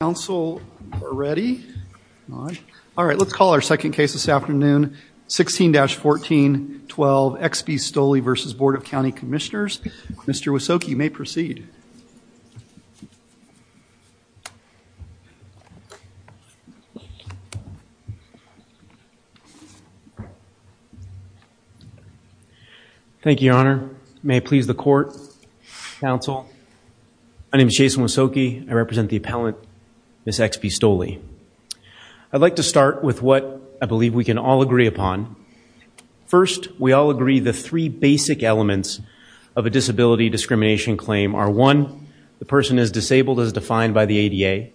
Council are ready. All right let's call our second case this afternoon 16-14 12 Exby-Stolley v. Board of County Commissioners. Mr. Wysoki, you may proceed. Thank you, Your Honor. May it please the Court, Council. My name is Jason Wysoki. I Ms. Exby-Stolley. I'd like to start with what I believe we can all agree upon. First, we all agree the three basic elements of a disability discrimination claim are one, the person is disabled as defined by the ADA.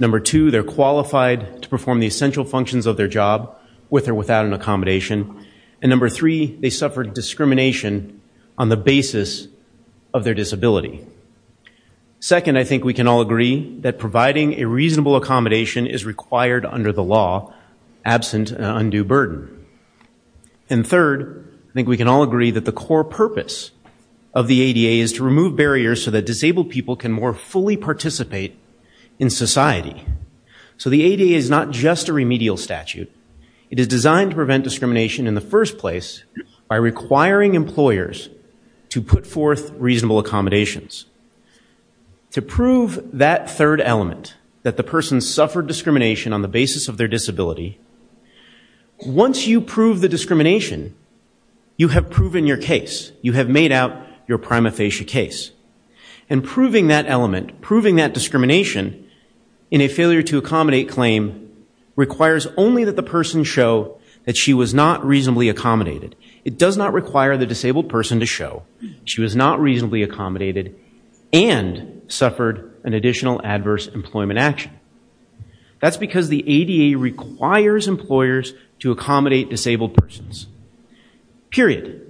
Number two, they're qualified to perform the essential functions of their job with or without an accommodation. And number three, they suffered discrimination on the basis of a reasonable accommodation is required under the law absent an undue burden. And third, I think we can all agree that the core purpose of the ADA is to remove barriers so that disabled people can more fully participate in society. So the ADA is not just a remedial statute. It is designed to prevent discrimination in the first place by requiring employers to put forth reasonable accommodations. To prove that third element, that the person suffered discrimination on the basis of their disability, once you prove the discrimination, you have proven your case. You have made out your prima facie case. And proving that element, proving that discrimination in a failure to accommodate claim requires only that the person show that she was not reasonably accommodated. It does not require the additional adverse employment action. That's because the ADA requires employers to accommodate disabled persons. Period.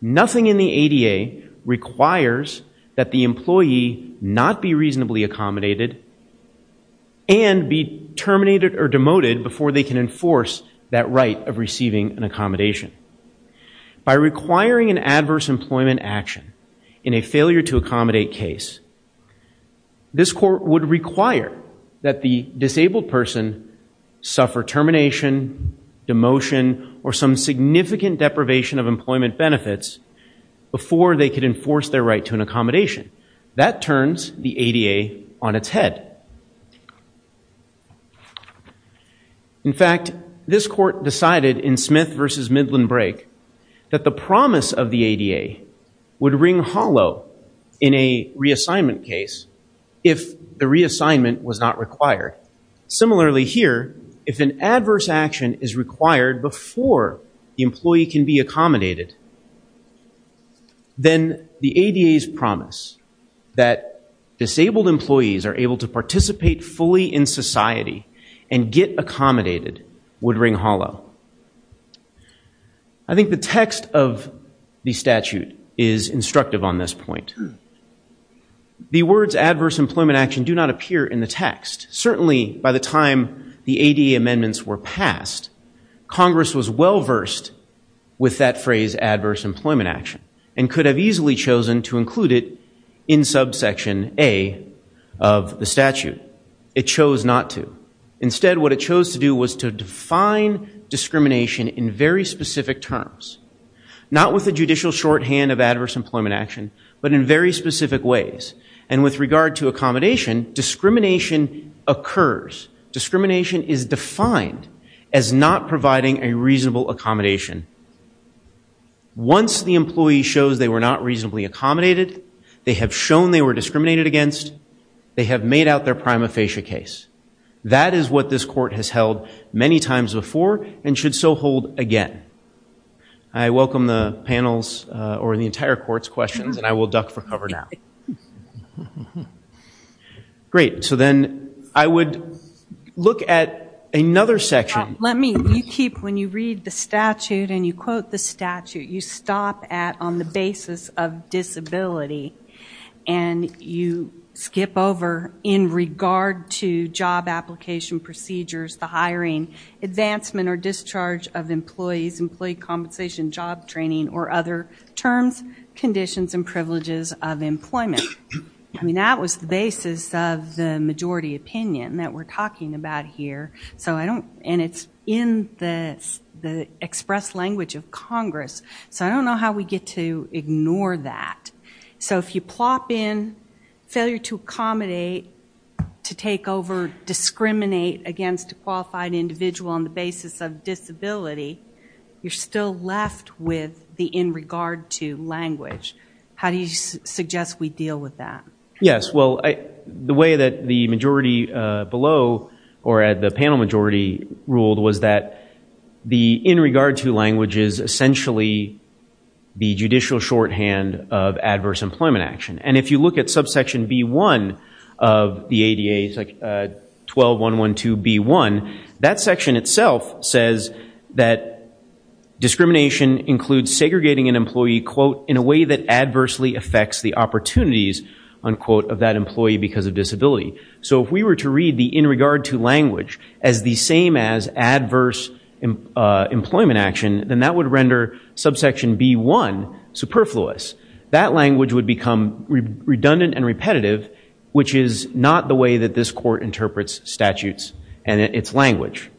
Nothing in the ADA requires that the employee not be reasonably accommodated and be terminated or demoted before they can enforce that right of receiving an accommodation. By requiring an adverse employment action in a failure to accommodate case, this court would require that the disabled person suffer termination, demotion, or some significant deprivation of employment benefits before they can enforce their right to an accommodation. That turns the ADA on its head. In fact, this court decided in Smith v. Midland Brake that the promise of the ADA would ring hollow in a reassignment case if the reassignment was not required. Similarly here, if an adverse action is required before the employee can be accommodated, then the ADA's promise that disabled employees are able to participate fully in society and get accommodated would ring hollow. I think the text of the statute is instructive on this point. The words adverse employment action do not appear in the text. Certainly by the time the ADA amendments were passed, Congress was well versed with that phrase adverse employment action and could have easily chosen to include it in subsection A of the statute. It chose not to. Instead what it chose to do was to define discrimination in very specific terms. Not with the judicial shorthand of adverse employment action, but in very specific ways. And with regard to accommodation, discrimination occurs. Discrimination is defined as not providing a reasonable accommodation. Once the employee shows they were not reasonably accommodated, they have shown they were discriminated against, they have made out their prima facie case. That is what this court has held many times before and should so hold again. I welcome the panel's or the entire court's questions and I will duck for cover now. Great, so then I would look at another section. Let me, you keep, when you read the statute and you quote the statute, you stop at on the basis of disability and you skip over in regard to job application procedures, the hiring, advancement or discharge of employees, employee compensation, job training or other terms, conditions and privileges of employment. I mean that was the basis of the majority opinion that we're talking about here. So I don't, and it's in the expressed language of Congress, so I don't know how we get to ignore that. So if you plop in failure to accommodate, to take over, discriminate against a qualified individual on the basis of disability, you're still left with the in regard to language. How do you suggest we deal with that? Yes, well I, the way that the majority below or at the panel majority ruled was that the in regard to language is essentially the judicial shorthand of adverse employment action. And if you look at subsection B1 of the ADA, it's like 12.112.B1, that section itself says that discrimination includes segregating an employee, quote, in a way that adversely affects the opportunities, unquote, of that employee because of disability. So if we were to read the in regard to language as the same as adverse employment action, then that would render subsection B1 superfluous. That language would become redundant and repetitive, which is not the way that this court interprets statutes and its language.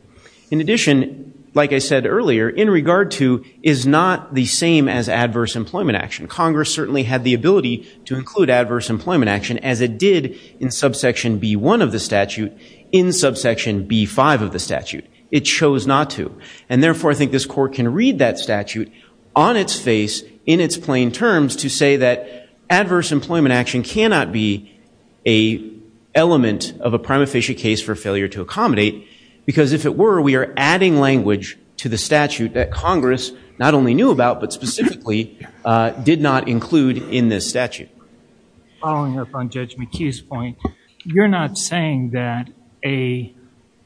In addition, like I said earlier, in regard to is not the same as adverse employment action. Congress certainly had the ability to include adverse employment action as it did in subsection B1 of the statute in subsection B5 of the statute. It chose not to. And therefore I think this court can read that statute on its face in its plain terms to say that adverse employment action cannot be an element of a prima facie case for failure to accommodate because if it were, we are adding language to the statute that Congress not only knew about but specifically did not include in this statute. Following up on Judge McKee's point, you're not saying that a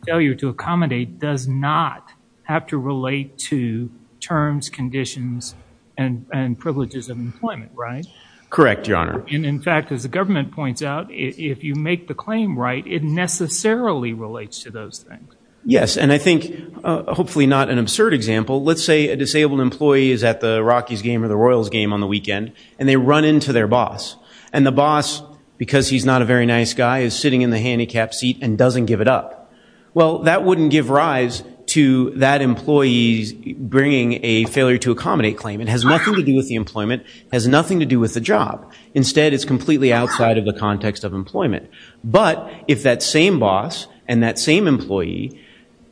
failure to accommodate does not have to relate to terms, conditions, and privileges of employment, right? Correct, Your Honor. And in fact, as the government points out, if you make the claim right, it necessarily relates to those things. Yes. And I think, hopefully not an absurd example, let's say a disabled employee is at the Rockies game or the Royals game on the weekend and they run into their boss. And the boss, because he's not a very nice guy, is sitting in the handicapped seat and doesn't give it up. Well, that wouldn't give rise to that employee bringing a failure to accommodate claim. It has nothing to do with the employment. It has nothing to do with the job. Instead, it's completely outside of the context of employment. But if that same boss and that same employee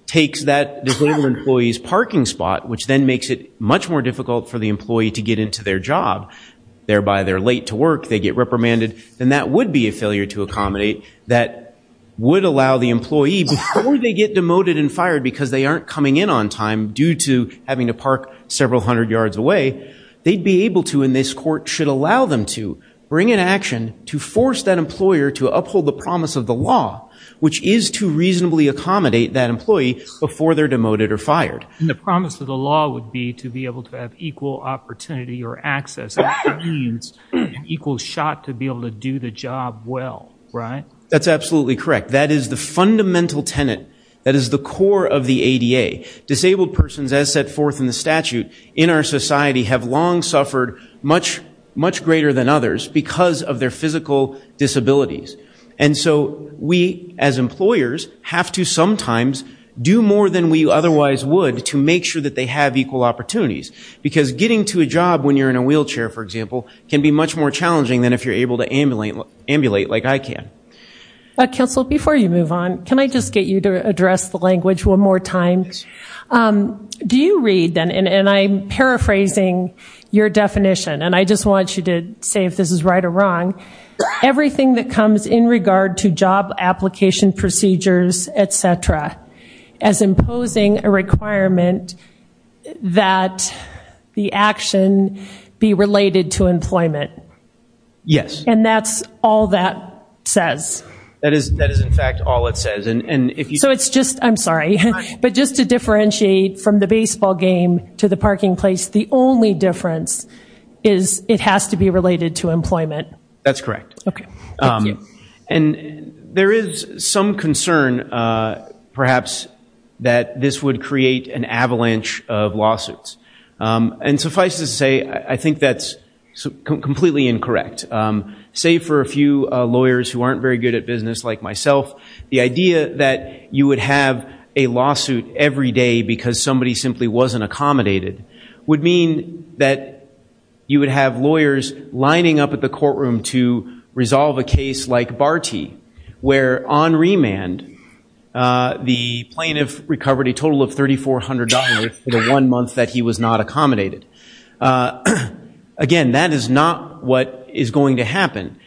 takes that disabled employee's parking spot, which then makes it much more difficult for the employee to get into their job, thereby they're late to work, they get reprimanded, then that would be a failure to accommodate that would allow the employee before they get demoted and fired because they aren't coming in on time due to having to park several hundred yards away, they'd be able to in this court should allow them to, bring an action to force that employer to uphold the promise of the law, which is to reasonably accommodate that employee before they're demoted or fired. And the promise of the law would be to be able to have equal opportunity or access, which means an equal shot to be able to do the job well, right? That's absolutely correct. That is the fundamental tenet that is the core of the ADA. Disabled persons as set forth in the statute in our society have long suffered much, much greater than others because of their physical disabilities. And so we as employers have to sometimes do more than we otherwise would to make sure that they have equal opportunities because getting to a job when you're in a wheelchair, for example, can be much more challenging than if you're able to ambulate like I can. Council, before you move on, can I just get you to address the language one more time? Do you read, and I'm paraphrasing your definition, and I just want you to say if this is right or wrong, everything that comes in regard to job application procedures, et cetera, as imposing a requirement that the action be related to employment? Yes. And that's all that says? That is, in fact, all it says. So it's just, I'm sorry, but just to differentiate from the baseball game to the parking place, the only difference is it has to be related to employment. That's correct. And there is some concern, perhaps, that this would create an avalanche of lawsuits. And suffice to say, I think that's completely incorrect. Save for a few lawyers who aren't very good at business like myself, the idea that you would have a lawsuit every day because somebody simply wasn't accommodated would mean that you would have lawyers lining up at the courtroom to resolve a case like Barty, where on remand the plaintiff recovered a case that was not accommodated. Again, that is not what is going to happen.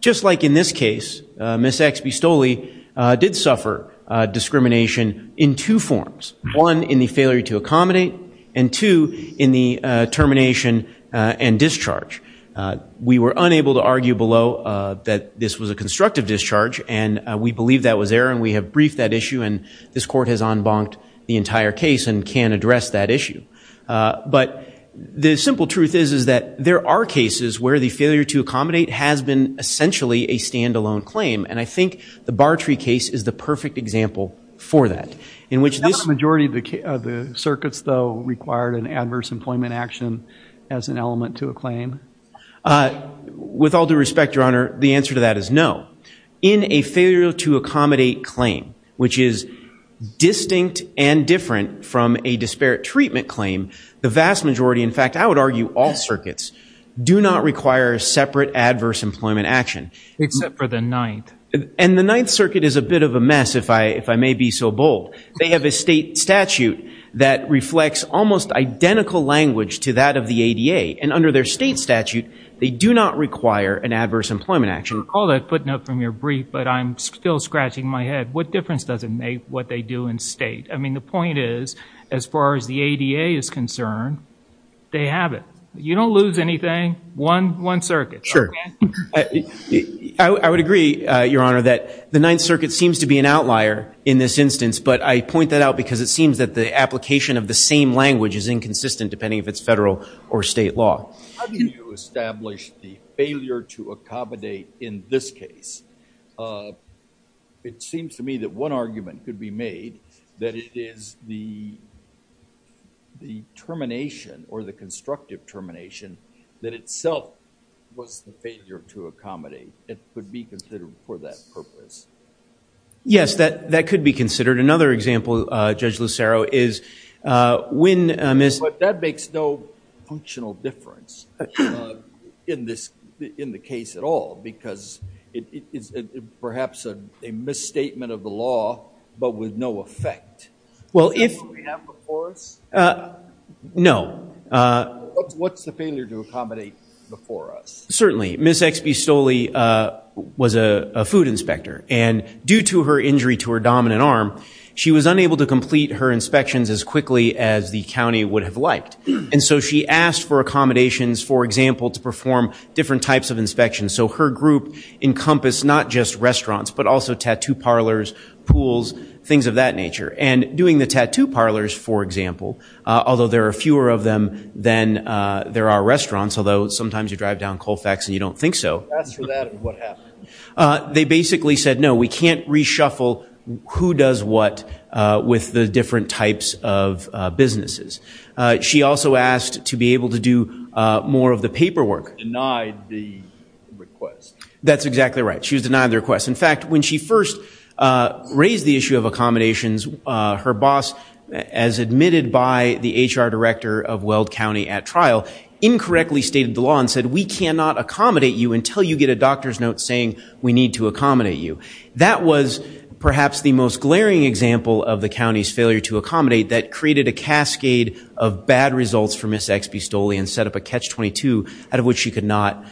Just like in this case, Ms. X. Bistoli did suffer discrimination in two forms. One, in the failure to accommodate, and two, in the termination and discharge. We were unable to argue below that this was a constructive discharge, and we believe that was error, and we have briefed that issue, and this Court has en banced the entire case and can address that issue. But the simple truth is that there are cases where the failure to accommodate has been essentially a standalone claim, and I think the Barty case is the perfect example for that. Is that a majority of the circuits, though, required an adverse employment action as an element to a claim? With all due respect, Your Honor, the answer to that is no. In a failure to accommodate claim, which is distinct and different from a disparate treatment claim, the vast majority, in fact, I would argue all circuits, do not require a separate adverse employment action. Except for the Ninth. And the Ninth Circuit is a bit of a mess, if I may be so bold. They have a state statute that reflects almost identical language to that of the ADA, and under their state statute, they do not require an adverse employment action. I recall that footnote from your brief, but I'm still scratching my head. What difference does it make what they do in state? I mean, the point is, as far as the ADA is concerned, they have it. You don't lose anything. One circuit. Sure. I would agree, Your Honor, that the Ninth Circuit seems to be an outlier in this instance, but I point that out because it seems that the application of the same language is inconsistent, depending if it's federal or state law. How do you establish the failure to accommodate in this case? It seems to me that one argument could be made, that it is the termination or the constructive termination that itself was the failure to accommodate. It could be considered for that purpose. Yes, that could be considered. Another example, Judge Lucero, is when... That makes no functional difference in the case at all, because it is perhaps a misstatement of the law, but with no effect. Is that what we have before us? No. What's the failure to accommodate before us? Certainly. Ms. X. B. Stolle was a food inspector, and due to her injury to her dominant arm, she was unable to complete her inspections as quickly as the county would have liked. And so she asked for accommodations, for example, to perform different types of inspections. So her group encompassed not just restaurants, but also tattoo parlors, pools, things of that nature. And doing the tattoo parlors, for example, although there are fewer of them than there are restaurants, although sometimes you drive down Colfax and you don't think so... Asked for that, and what happened? They basically said, no, we can't reshuffle who does what with the different types of businesses. She also asked to be able to do more of the paperwork. Denied the request. That's exactly right. She was denied the request. In fact, when she first raised the issue of accommodations, her boss, as admitted by the HR director of Weld County at trial, incorrectly stated the law and said, we cannot accommodate you until you get a doctor's note saying we need to accommodate you. That was perhaps the most glaring example of the county's failure to accommodate that created a cascade of bad results for Ms. XB Stolle and set up a catch-22 out of which she could not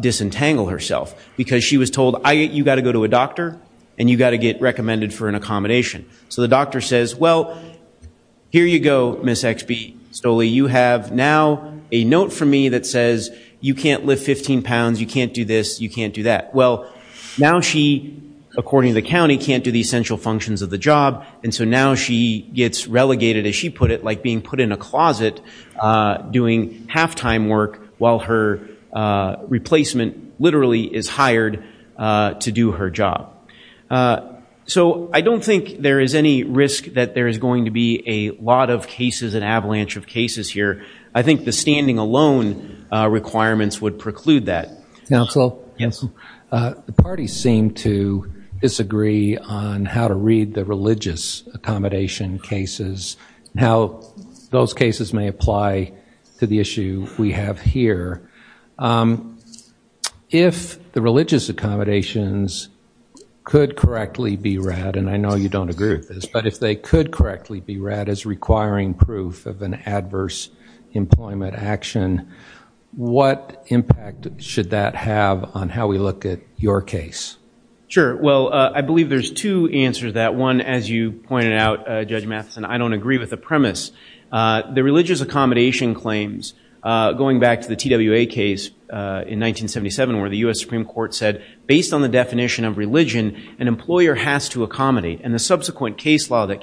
disentangle herself. Because she was told, you've got to go to a doctor and you've got to get recommended for an accommodation. So the doctor says, well, here you go, Ms. XB Stolle, you have now a note from me that says you can't lift 15 pounds, you can't do this, you can't do that. Well, now she, according to the county, can't do the essential functions of the job. And so now she gets relegated, as she put it, like being put in a closet doing halftime work while her replacement literally is hired to do her job. So I don't think there is any risk that there is going to be a lot of cases, an avalanche of cases here. I think the standing alone requirements would preclude that. Counsel, the parties seem to disagree on how to read the religious accommodation cases, how those cases may apply to the issue we have here. If the religious accommodations could correctly be read, and I know you don't agree with this, but if they could correctly be read as requiring proof of an adverse employment action, what impact should that have on how we look at your case? Sure. Well, I believe there's two answers to that. One, as you pointed out, Judge Matheson, I don't agree with the premise. The religious accommodation claims, going back to the TWA case in 1977 where the U.S. Supreme Court said, based on the definition of religion, an employer has to accommodate. And the subsequent case law that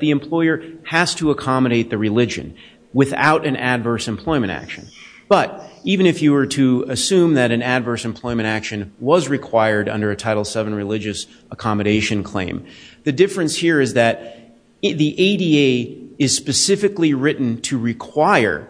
the employer has to accommodate the religion without an adverse employment action. But even if you were to assume that an adverse employment action was required under a Title VII religious accommodation claim, the difference here is that the ADA is specifically written to require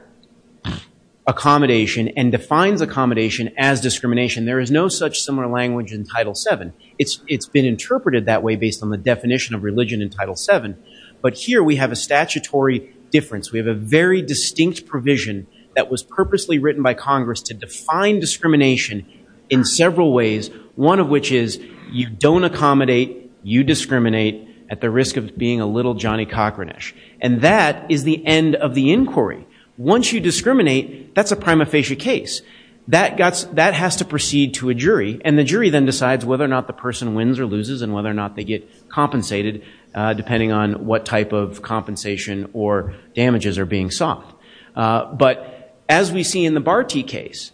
accommodation and defines accommodation as discrimination. There is no such similar language in Title VII. It's been interpreted that way based on the definition of religion in Title VII. But here we have a statutory difference. We have a very distinct provision that was purposely written by Congress to define discrimination in several ways, one of which is you don't accommodate, you discriminate at the risk of being a little Johnny Cochranesh. And that is the end of the inquiry. Once you discriminate, that's a prima facie case. That has to proceed to a jury, and the jury then decides whether or not the person wins or loses and whether or not they get compensated, depending on what type of compensation or damages are being sought. But as we see in the Barty case,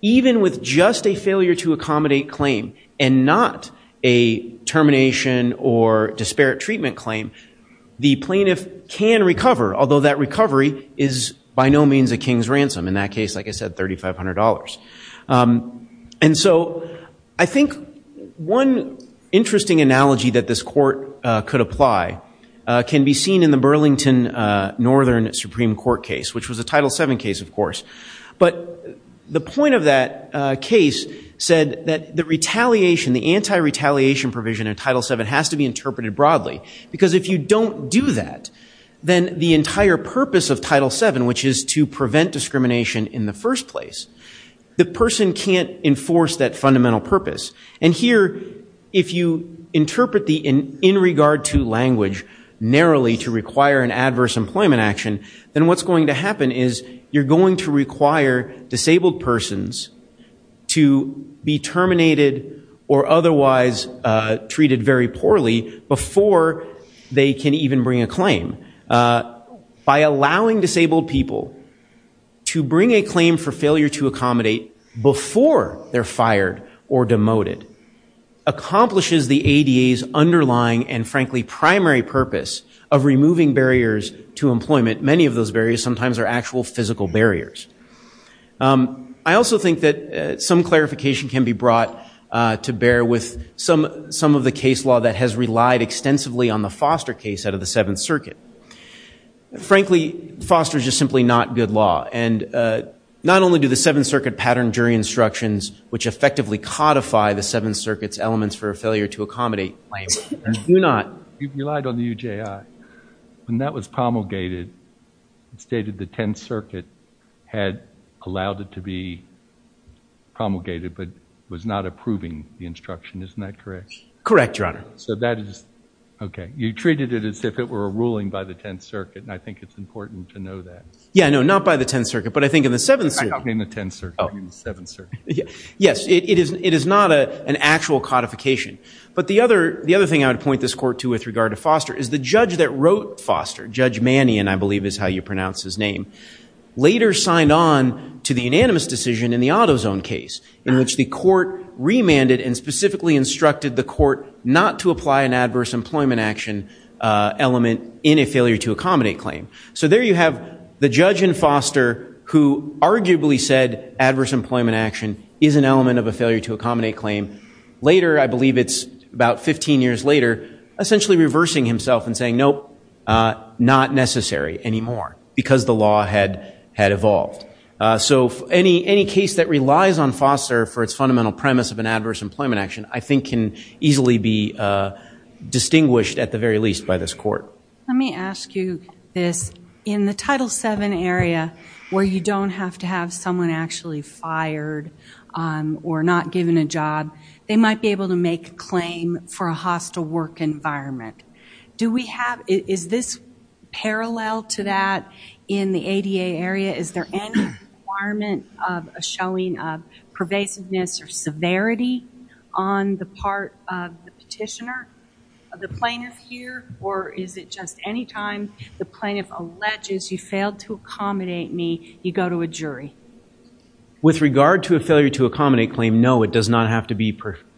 even with just a failure to accommodate claim and not a termination or disparate treatment claim, the plaintiff can recover, although that recovery is by no means a king's ransom. In that case, the point of that case said that the retaliation, the anti-retaliation provision in Title VII has to be interpreted broadly. Because if you don't do that, then the entire purpose of Title VII, which is to prevent discrimination in the first place, the person can't enforce that in regard to language narrowly to require an adverse employment action, then what's going to happen is you're going to require disabled persons to be terminated or otherwise treated very poorly before they can even bring a claim. By allowing disabled people to bring a claim for failure to frankly primary purpose of removing barriers to employment, many of those barriers sometimes are actual physical barriers. I also think that some clarification can be brought to bear with some of the case law that has relied extensively on the Foster case out of the Seventh Circuit. Frankly, Foster is just simply not good law. And not only do the Seventh Circuit pattern jury instructions, which effectively codify the Seventh Circuit's elements for a failure to accommodate Do not. You relied on the UJI. When that was promulgated, it stated the Tenth Circuit had allowed it to be promulgated, but was not approving the instruction. Isn't that correct? Correct, Your Honor. So that is, okay, you treated it as if it were a ruling by the Tenth Circuit, and I think it's important to know that. Yeah, no, not by the Tenth Circuit, but I think in the Seventh Circuit. In the Tenth Circuit, in the Seventh Circuit. Yes, it is not an actual codification. But the other thing I would point this court to with regard to Foster is the judge that wrote Foster, Judge Mannion, I believe is how you pronounce his name, later signed on to the unanimous decision in the AutoZone case, in which the court remanded and specifically instructed the court not to apply an adverse employment action element in a failure to accommodate claim. So there you have the judge in Foster who arguably said adverse employment action is an element of a about 15 years later, essentially reversing himself and saying, nope, not necessary anymore, because the law had evolved. So any case that relies on Foster for its fundamental premise of an adverse employment action, I think can easily be distinguished at the very least by this court. Let me ask you this. In the Title VII area, where you don't have to have someone actually fired or not given a job, they might be able to make a claim for a hostile work environment. Do we have, is this parallel to that in the ADA area? Is there any requirement of a showing of pervasiveness or severity on the part of the petitioner of the plaintiff here? Or is it just any time the plaintiff alleges you failed to accommodate me, you go to a jury? With regard to a failure to accommodate claim, no, it does not have to be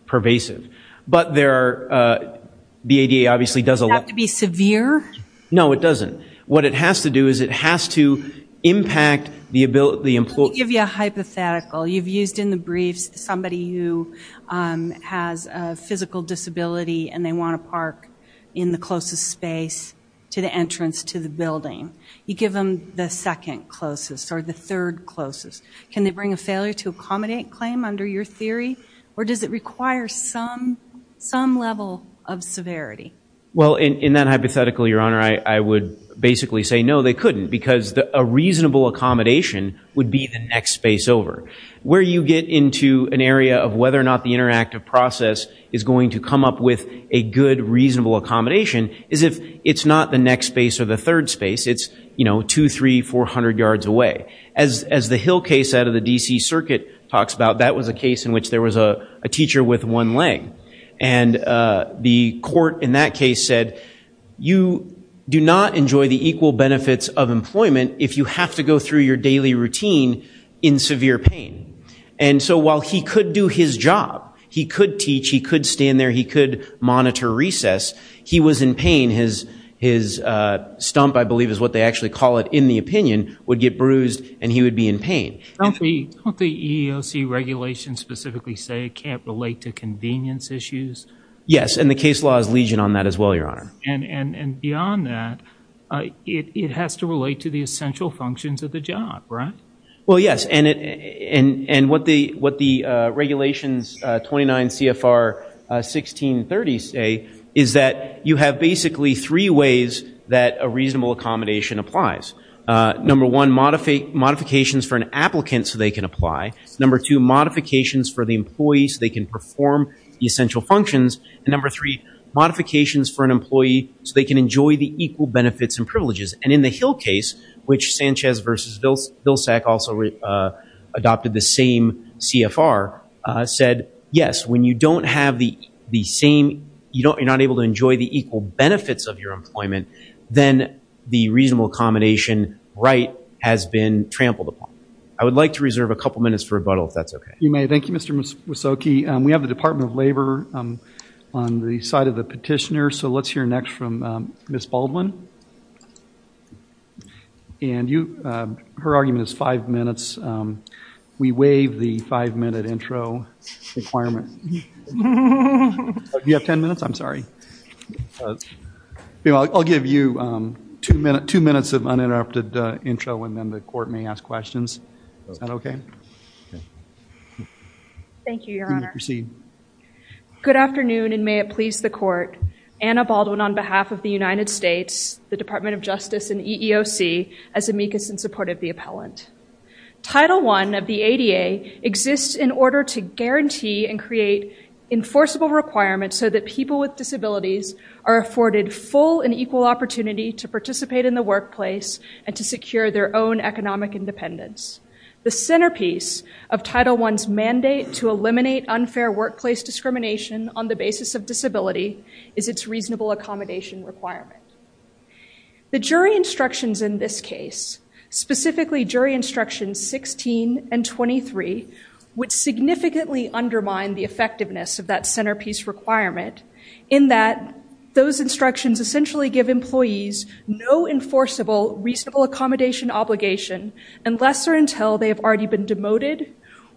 pervasive. But there are, the ADA obviously does allow... Does it have to be severe? No, it doesn't. What it has to do is it has to impact the ability... Let me give you a hypothetical. You've used in the briefs somebody who has a physical disability and they want to park in the closest space to the entrance to the building. You give them the second closest or the third closest. Can they bring a failure to accommodate claim under your theory? Or does it require some level of severity? Well, in that hypothetical, Your Honor, I would basically say no, they couldn't because a reasonable accommodation would be the next space over. Where you get into an area of whether or not the interactive process is going to come up with a good, reasonable accommodation is if it's not the next space or the third space, it's two, three, four hundred yards away. As the Hill case out of the D.C. Circuit talks about, that was a case in which there was a teacher with one leg. And the court in that case said, you do not enjoy the equal benefits of employment if you have to go through your daily routine in severe pain. And so while he could do his job, he could teach, he could stand there, he could monitor recess, he was in pain. His stump, I believe is what they actually call it in the opinion, would get bruised and he would be in pain. Don't the EEOC regulations specifically say it can't relate to convenience issues? Yes, and the case law is legion on that as well, Your Honor. And beyond that, it has to relate to the essential functions of the job, right? Well, yes. And what the regulations 29 CFR 1630 say is that you have basically three ways that a reasonable accommodation applies. Number one, modifications for an applicant so they can apply. Number two, modifications for the employees so they can perform the essential functions. And number three, modifications for an employee so they can enjoy the equal benefits and privileges. And in the Hill case, which Sanchez versus Vilsack also adopted the same CFR, said, yes, when you don't have the same, you're not able to enjoy the equal benefits of your employment, then the reasonable accommodation right has been trampled upon. I would like to reserve a couple minutes for rebuttal, if that's okay. You may. Thank you, Mr. Wysoki. We have the Department of Labor on the side of the petitioner. So let's hear next from Ms. Baldwin. And her argument is five minutes. We waive the five-minute intro requirement. You have 10 minutes? I'm sorry. I'll give you two minutes of uninterrupted intro, and then the court may ask questions. Is that okay? Thank you, Your Honor. You may proceed. Good afternoon, and may it please the court. Anna Baldwin, on behalf of the United States, the Department of Justice, and EEOC, as amicus in support of the appellant. Title I of the ADA exists in order to guarantee and create enforceable requirements so that people with disabilities are afforded full and equal opportunity to participate in the workplace and to secure their own economic independence. The centerpiece of Title I's mandate to eliminate unfair workplace discrimination on the basis of disability is its reasonable accommodation requirement. The jury instructions in this case, specifically jury instructions 16 and 23, would significantly undermine the effectiveness of that centerpiece requirement in that those instructions essentially give employees no enforceable reasonable accommodation obligation unless or until they have already been demoted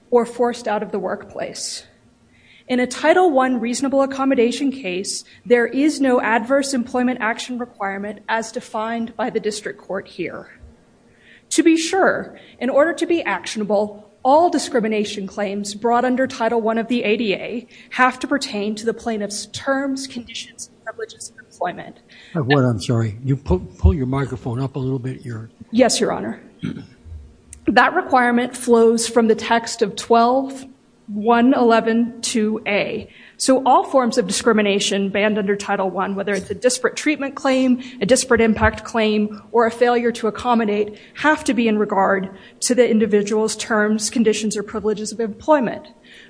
or forced out of the workplace. In a Title I reasonable accommodation case, there is no adverse employment action requirement as defined by the district court here. To be sure, in order to be actionable, all discrimination claims brought under Title I of the ADA have to pertain to the plaintiff's terms, conditions, and privileges of employment. I'm sorry. You pull your microphone up a little bit. Yes, Your Honor. Mm-hmm. That requirement flows from the text of 12.111.2a. So all forms of discrimination banned under Title I, whether it's a disparate treatment claim, a disparate impact claim, or a failure to accommodate, have to be in regard to the individual's terms, conditions, or privileges of employment.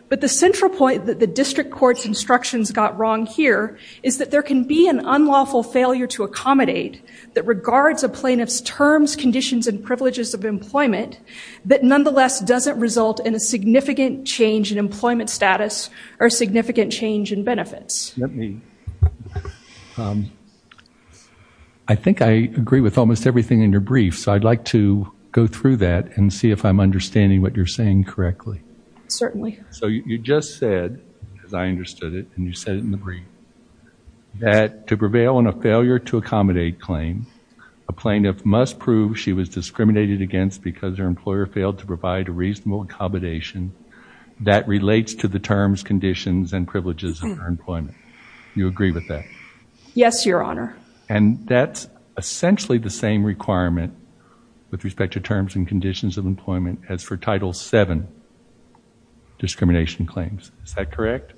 But the central point that the district court's instructions got wrong here is that there can be an unlawful failure to accommodate that regards a plaintiff's privileges of employment that nonetheless doesn't result in a significant change in employment status or significant change in benefits. Let me. I think I agree with almost everything in your brief. So I'd like to go through that and see if I'm understanding what you're saying correctly. Certainly. So you just said, as I understood it, and you said it in the brief, that to prevail on failure to accommodate claim, a plaintiff must prove she was discriminated against because her employer failed to provide a reasonable accommodation that relates to the terms, conditions, and privileges of her employment. You agree with that? Yes, Your Honor. And that's essentially the same requirement with respect to terms and conditions of employment as for Title VII discrimination claims. Is that correct?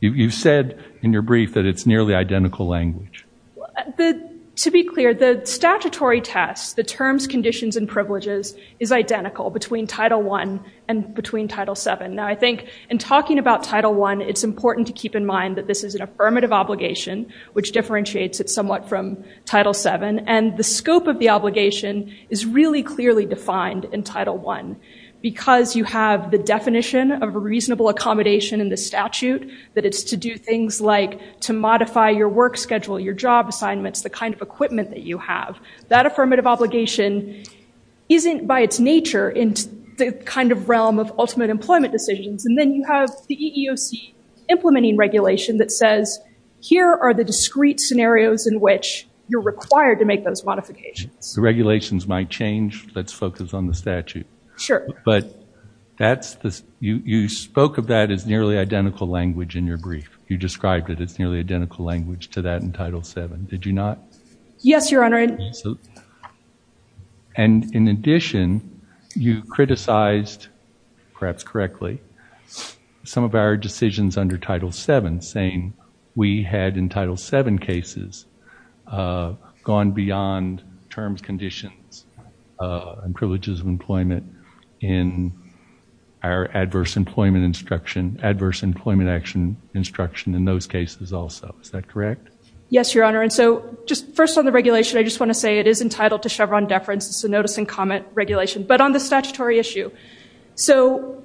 You said in your brief that it's nearly identical language. To be clear, the statutory test, the terms, conditions, and privileges is identical between Title I and between Title VII. Now, I think in talking about Title I, it's important to keep in mind that this is an affirmative obligation, which differentiates it somewhat from Title VII. And the scope of the obligation is really clearly defined in Title I because you have the definition of a reasonable accommodation in the statute, that it's to do things like to modify your work schedule, your job assignments, the kind of equipment that you have. That affirmative obligation isn't by its nature in the kind of realm of ultimate employment decisions. And then you have the EEOC implementing regulation that says, here are the discrete scenarios in which you're required to make those modifications. The regulations might change. Let's focus on the statute. Sure. But that's the, you spoke of that as nearly identical language in your brief. You described it as nearly identical language to that in Title VII. Did you not? Yes, Your Honor. And in addition, you criticized, perhaps correctly, some of our decisions under Title VII, saying we had in Title VII cases have gone beyond terms, conditions, and privileges of employment in our adverse employment instruction, adverse employment action instruction in those cases also. Is that correct? Yes, Your Honor. And so just first on the regulation, I just want to say it is entitled to Chevron deference. It's a notice and comment regulation. But on the statutory issue, so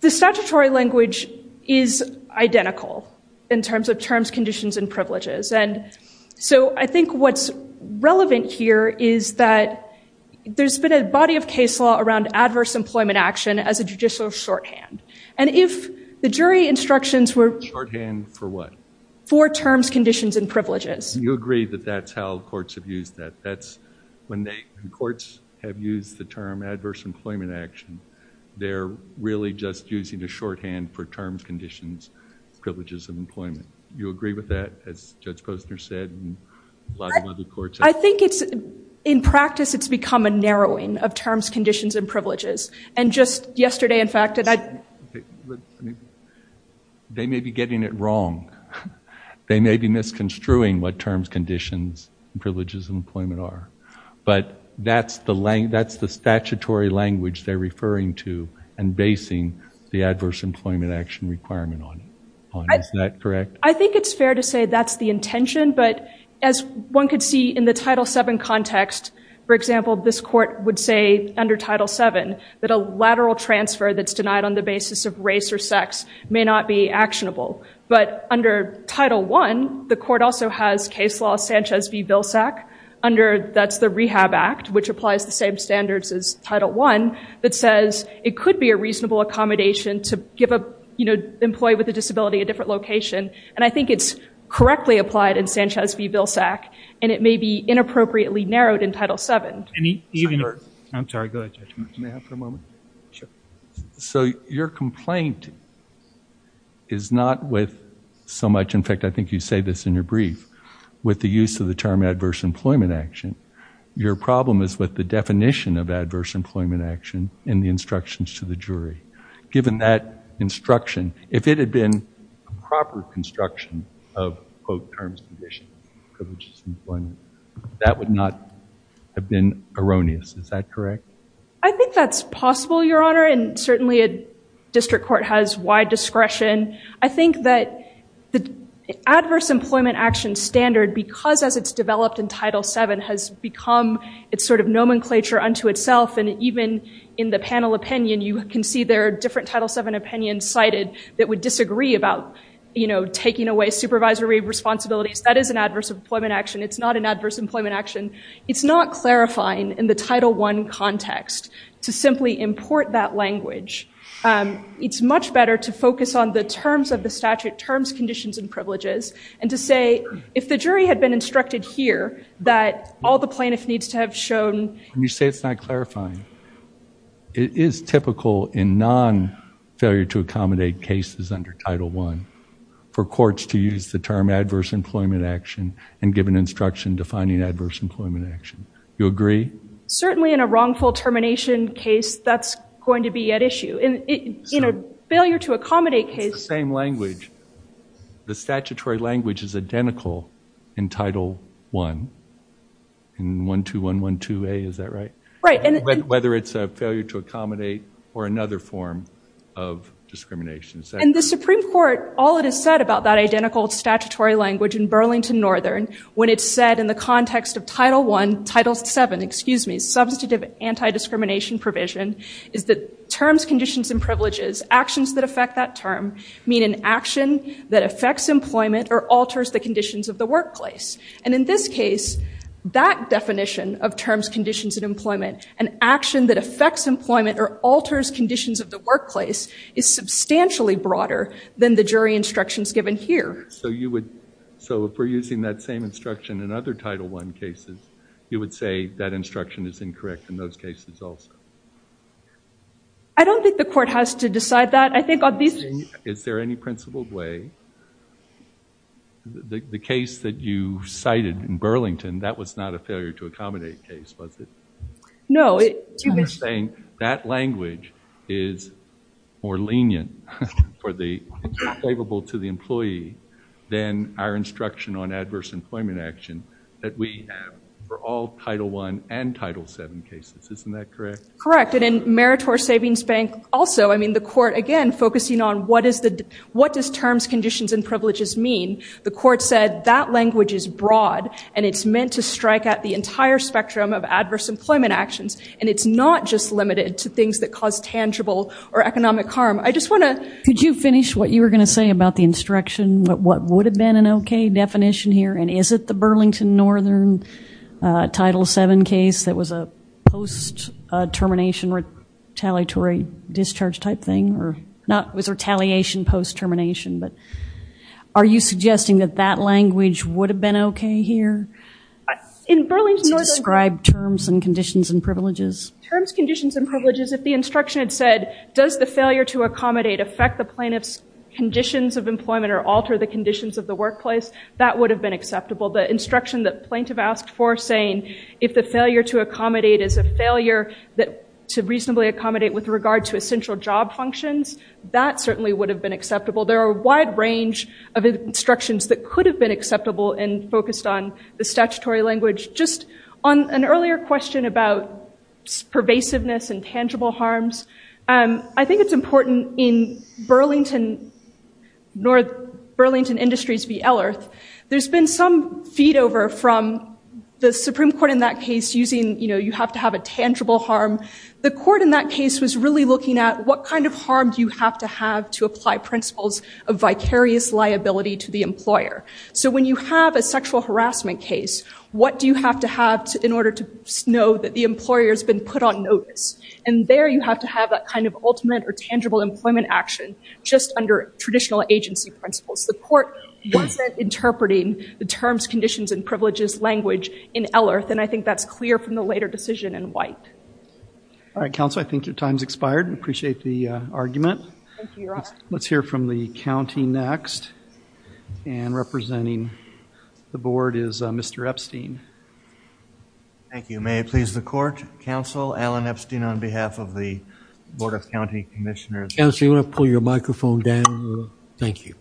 the statutory language is identical in terms of terms, conditions, and privileges. And so I think what's relevant here is that there's been a body of case law around adverse employment action as a judicial shorthand. And if the jury instructions were- Shorthand for what? For terms, conditions, and privileges. You agree that that's how courts have used that. That's when the courts have used the term adverse employment action, they're really just using the shorthand for terms, conditions, privileges of employment. You agree with that, as Judge Posner said, and a lot of other courts- I think it's in practice, it's become a narrowing of terms, conditions, and privileges. And just yesterday, in fact- They may be getting it wrong. They may be misconstruing what terms, conditions, and privileges of employment are. But that's the statutory language they're referring to and basing the adverse employment action requirement on. Is that correct? I think it's fair to say that's the intention. But as one could see in the Title VII context, for example, this court would say under Title VII that a lateral transfer that's denied on the basis of race or sex may not be actionable. But under Title I, the court also has case law Sanchez v. Vilsack under- that's the Rehab Act, which applies the same standards as Title I, that says it could be a reasonable accommodation to give an employee with a disability a different location. And I think it's correctly applied in Sanchez v. Vilsack, and it may be inappropriately narrowed in Title VII. I'm sorry, go ahead, Judge. May I have a moment? Sure. So your complaint is not with so much- in fact, I think you say this in your brief- with the use of the term adverse employment action. Your problem is with the definition of adverse employment action in the instructions to the jury. Given that instruction, if it had been a proper construction of, quote, terms, conditions, privileges, and employment, that would not have been erroneous. Is that correct? I think that's possible, Your Honor, and certainly a district court has wide discretion. I think that the adverse employment action standard, because as it's developed in Title VII, has become its sort of nomenclature unto itself. And even in the panel opinion, you can see there are different Title VII opinions cited that would disagree about, you know, taking away supervisory responsibilities. That is an adverse employment action. It's not clarifying in the Title I context to simply import that language. It's much better to focus on the terms of the statute, terms, conditions, and privileges, and to say if the jury had been instructed here that all the plaintiff needs to have shown- When you say it's not clarifying, it is typical in non-failure-to-accommodate cases under Title I for courts to use the term adverse employment action and give an instruction defining adverse employment action. You agree? Certainly in a wrongful termination case, that's going to be at issue. In a failure-to-accommodate case- It's the same language. The statutory language is identical in Title I, in 12112A, is that right? Right. Whether it's a failure-to-accommodate or another form of discrimination. And the Supreme Court, all it has said about that identical statutory language in Burlington Northern, when it's said in the context of Title I, Title VII, excuse me, substantive anti-discrimination provision, is that terms, conditions, and privileges, actions that affect that term, mean an action that affects employment or alters the conditions of the workplace. And in this case, that definition of terms, conditions, and employment, an action that affects employment or alters conditions of the workplace, is substantially broader than the jury instructions given here. So you would, so if we're using that same instruction in other Title I cases, you would say that instruction is incorrect in those cases also? I don't think the court has to decide that. I think obviously- Is there any principled way, the case that you was it? No. That language is more lenient for the, it's more favorable to the employee than our instruction on adverse employment action that we have for all Title I and Title VII cases. Isn't that correct? Correct. And in Meritor Savings Bank also, I mean, the court, again, focusing on what is the, what does terms, conditions, and privileges mean, the court said that language is broad and it's meant to strike at the entire spectrum of adverse employment actions. And it's not just limited to things that cause tangible or economic harm. I just want to- Could you finish what you were going to say about the instruction, what would have been an okay definition here? And is it the Burlington Northern Title VII case that was a post-termination retaliatory discharge type thing? Or not, was retaliation post-termination, but are you suggesting that that language would have been okay here? In Burlington Northern- Could you describe terms and conditions and privileges? Terms, conditions, and privileges, if the instruction had said, does the failure to accommodate affect the plaintiff's conditions of employment or alter the conditions of the workplace, that would have been acceptable. The instruction that plaintiff asked for saying, if the failure to accommodate is a failure that, to reasonably accommodate with regard to essential job functions, that certainly would have been acceptable. There are a wide range of instructions that could have been acceptable and focused on the statutory language. Just on an earlier question about pervasiveness and tangible harms, I think it's important in Burlington, North Burlington Industries v. Ellerth, there's been some feed over from the Supreme Court in that case using, you know, you have to have a tangible harm. The court in that case was really looking at what kind of harm do you have to have to apply principles of vicarious liability to the employer. So when you have a sexual harassment case, what do you have to have in order to know that the employer's been put on notice? And there you have to have that kind of ultimate or tangible employment action just under traditional agency principles. The court wasn't interpreting the terms, conditions, and privileges language in Ellerth, and I think that's clear from the later decision in White. All right, counsel, I think your time's expired. I appreciate the argument. Let's hear from the county next, and representing the board is Mr. Epstein. Thank you. May I please the court? Counsel Alan Epstein on behalf of the Board of County Commissioners. Counsel, you want to pull your microphone down? Thank you.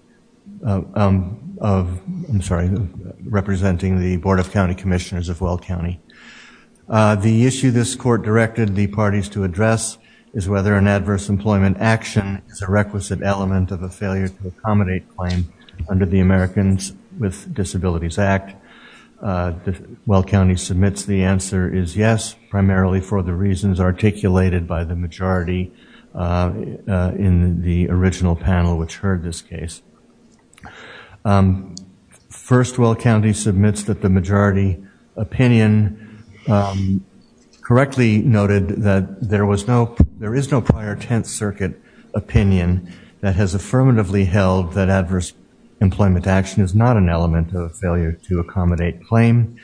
I'm sorry, representing the Board of County Commissioners of Weld County. The issue this court directed the parties to address is whether an adverse employment action is a requisite element of a failure to accommodate claim under the Americans with Disabilities Act. Weld County submits the answer is yes, primarily for the reasons articulated by the majority in the original panel which heard this case. First, Weld County submits that the majority opinion correctly noted that there was no, there is no prior Tenth Circuit opinion that has affirmatively held that adverse employment action is not an element of a failure to accommodate claim.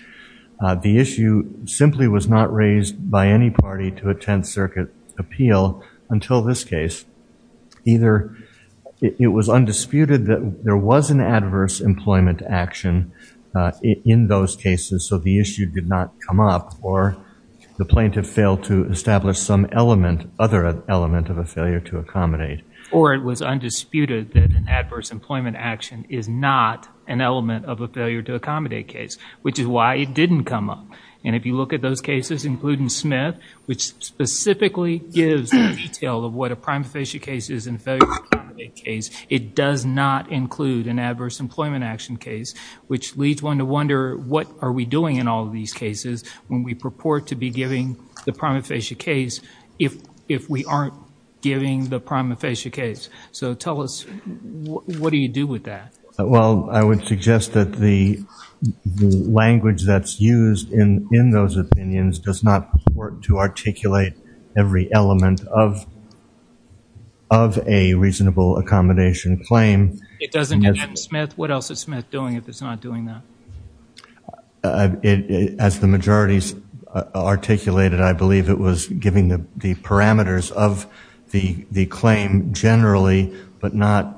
The issue simply was not raised by any party to a Tenth Circuit appeal until this case. Either it was undisputed that there was an adverse employment action in those cases, so the issue did not come up, or the plaintiff failed to establish some element, other element of a failure to accommodate. Or it was undisputed that an adverse employment action is not an element of a failure to accommodate case, which is why it didn't come up. And if you look at those cases, including Smith, which specifically gives a detail of what a prima facie case is in a failure to accommodate case, it does not include an adverse employment action case, which leads one to wonder what are we doing in all of these cases when we purport to be giving the prima facie case if we aren't giving the prima facie case. So tell us, what do you do with that? Well, I would suggest that the language that's used in those opinions does not work to articulate every element of a reasonable accommodation claim. It doesn't in Smith? What else is Smith doing if it's not doing that? As the majorities articulated, I believe it was giving the parameters of the claim generally, but not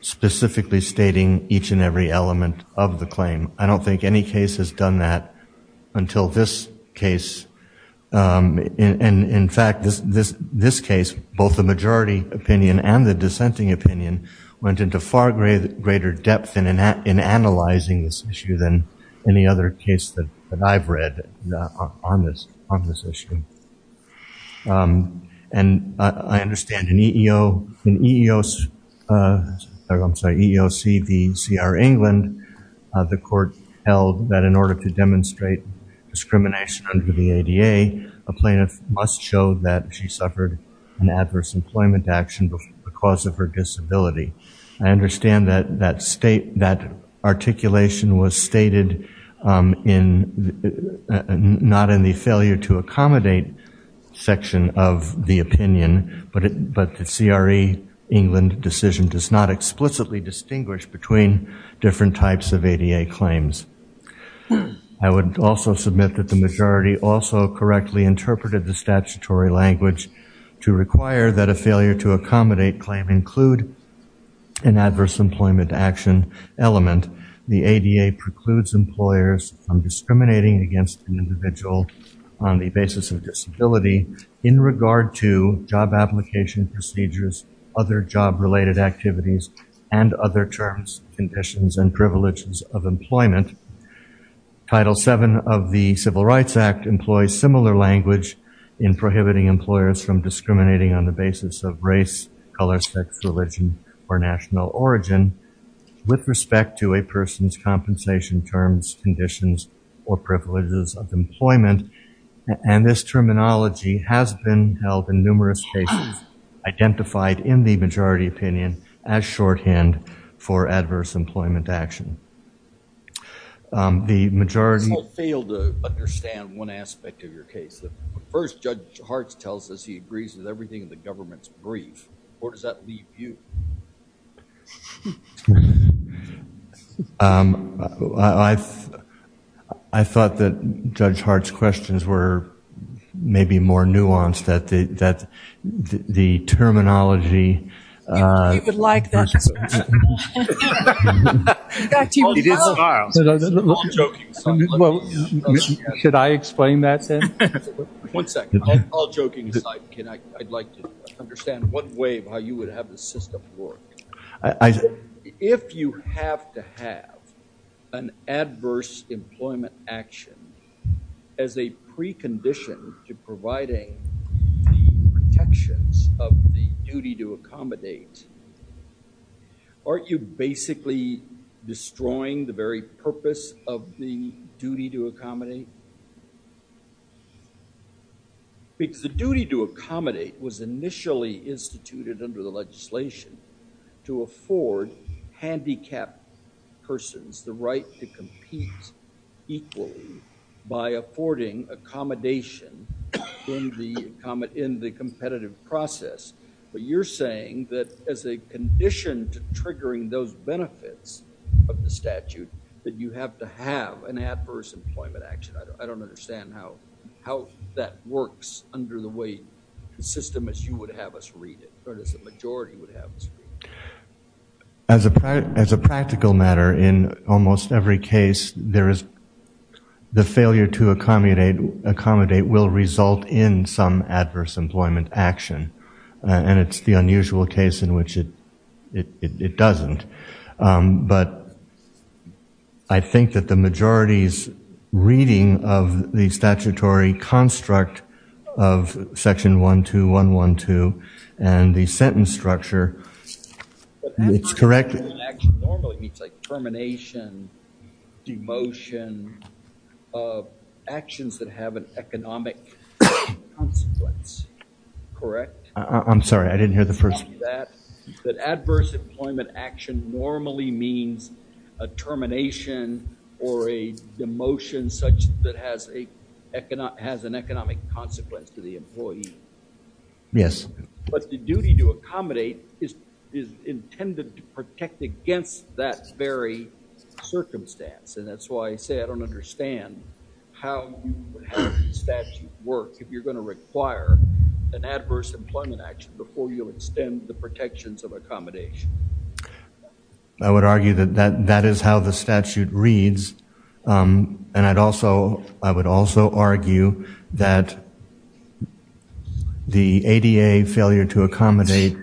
specifically stating each and every element of the claim. I don't think any case has done that until this case. And in fact, this case, both the majority opinion and the dissenting opinion, went into far greater depth in analyzing this issue than any other case that I've read on this issue. And I understand in EEOC v. C.R. England, the court held that in order to demonstrate discrimination under the ADA, a plaintiff must show that she suffered an adverse employment action because of her disability. I understand that that articulation was stated not in the failure to accommodate section of the opinion, but the C.R.E. England decision does not explicitly distinguish between different types of ADA claims. I would also submit that the majority also correctly interpreted the statutory language to require that a failure to accommodate claim include an adverse employment action element. The ADA precludes employers from discriminating against an individual on the basis of disability in regard to job application procedures, other job related activities, and other terms, conditions, and privileges of employment. Title VII of the Civil Rights Act employs similar language in prohibiting employers from discriminating on the basis of race, color, sex, religion, or national origin with respect to a person's compensation terms, conditions, or privileges of employment. And this terminology has been held in numerous cases, identified in the majority opinion as shorthand for adverse employment action. The majority- I failed to understand one aspect of your case. First, Judge Hartz tells us he agrees with everything in the government's brief. Where does that leave you? I thought that Judge Hartz's questions were maybe more nuanced, that the terminology- He would like that. Should I explain that, Sam? One second. All joking aside, I'd like to understand one way of how you would have the system work. If you have to have an adverse employment action as a precondition to providing the protections of the duty to accommodate, aren't you basically destroying the very purpose of the duty to accommodate? Because the duty to accommodate was initially instituted under the legislation to afford handicapped persons the right to compete equally by affording accommodation in the competitive process. But you're saying that as a condition to triggering those benefits of the statute, that you have to have an adverse employment action. I don't understand how that works under the way the system as you would have us read it, or as a majority would have us read it. As a practical matter, in almost every case, the failure to accommodate will result in some it doesn't. But I think that the majority's reading of the statutory construct of section 12112 and the sentence structure, it's correct- But adverse employment action normally means like termination, demotion, actions that have an economic consequence, correct? I'm sorry, I didn't hear the first- That adverse employment action normally means a termination or a demotion such that has an economic consequence to the employee. Yes. But the duty to accommodate is intended to protect against that very circumstance. And that's why I say I don't understand how you would have the statute work if you're going to require an the protections of accommodation. I would argue that that is how the statute reads. And I'd also, I would also argue that the ADA failure to accommodate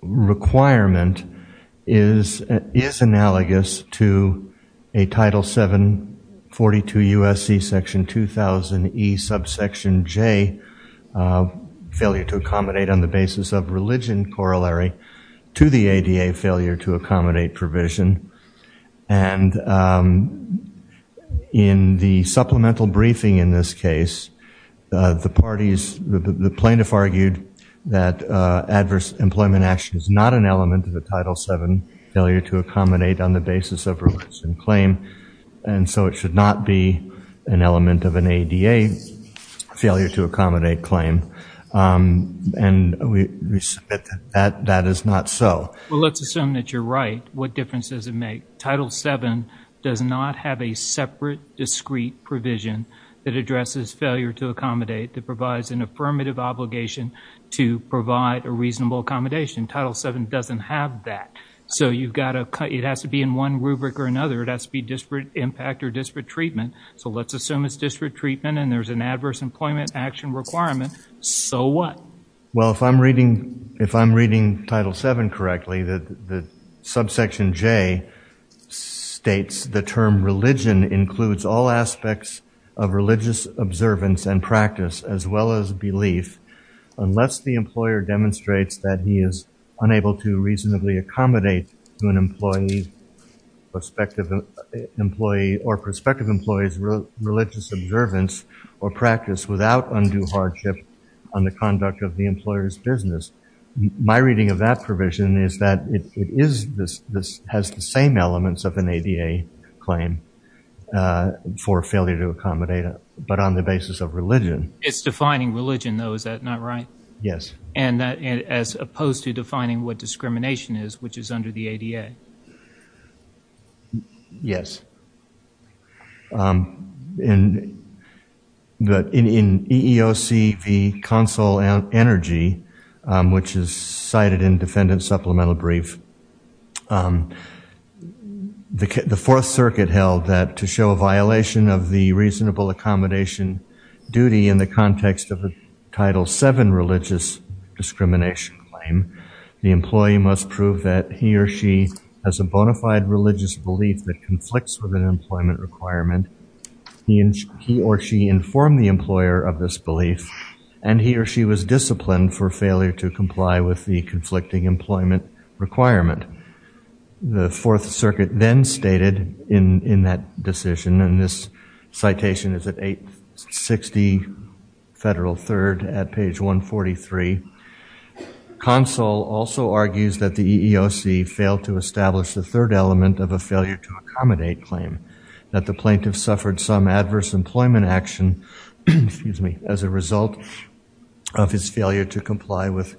requirement is analogous to a title 742 USC section 2000 E subsection J of failure to accommodate on the basis of religion corollary to the ADA failure to accommodate provision. And in the supplemental briefing in this case, the parties, the plaintiff argued that adverse employment action is not an element of the title 7 failure to accommodate on the claim. And we submit that that is not so. Well, let's assume that you're right. What difference does it make? Title 7 does not have a separate discrete provision that addresses failure to accommodate that provides an affirmative obligation to provide a reasonable accommodation. Title 7 doesn't have that. So you've got to, it has to be in one rubric or another. It has to be disparate impact or disparate treatment. So let's assume it's disparate treatment and there's an adverse employment action requirement. So what? Well, if I'm reading, if I'm reading title seven correctly, that the subsection J states the term religion includes all aspects of religious observance and practice as well as belief, unless the employer demonstrates that he is unable to reasonably accommodate to an employee perspective employee or prospective employees religious observance or practice without undue hardship on the conduct of the employer's business. My reading of that provision is that it is this, this has the same elements of an ADA claim for failure to accommodate, but on the basis of religion. It's defining religion though, is that not right? Yes. And that as opposed to defining what discrimination is, which is under the ADA. Yes. In the, in EEOCV console energy, which is cited in defendant supplemental brief, the fourth circuit held that to show a violation of the reasonable accommodation duty in the context of the title seven religious discrimination claim, the employee must prove that he or she has a bona fide religious belief that conflicts with an employment requirement. He or she informed the employer of this belief and he or she was disciplined for failure to comply with the conflicting employment requirement. The fourth circuit then stated in, in that decision, and this citation is at eight 60 federal third at page one 43 console also argues that the EEOC failed to establish the third element of a failure to accommodate claim that the plaintiff suffered some adverse employment action, excuse me, as a result of his failure to comply with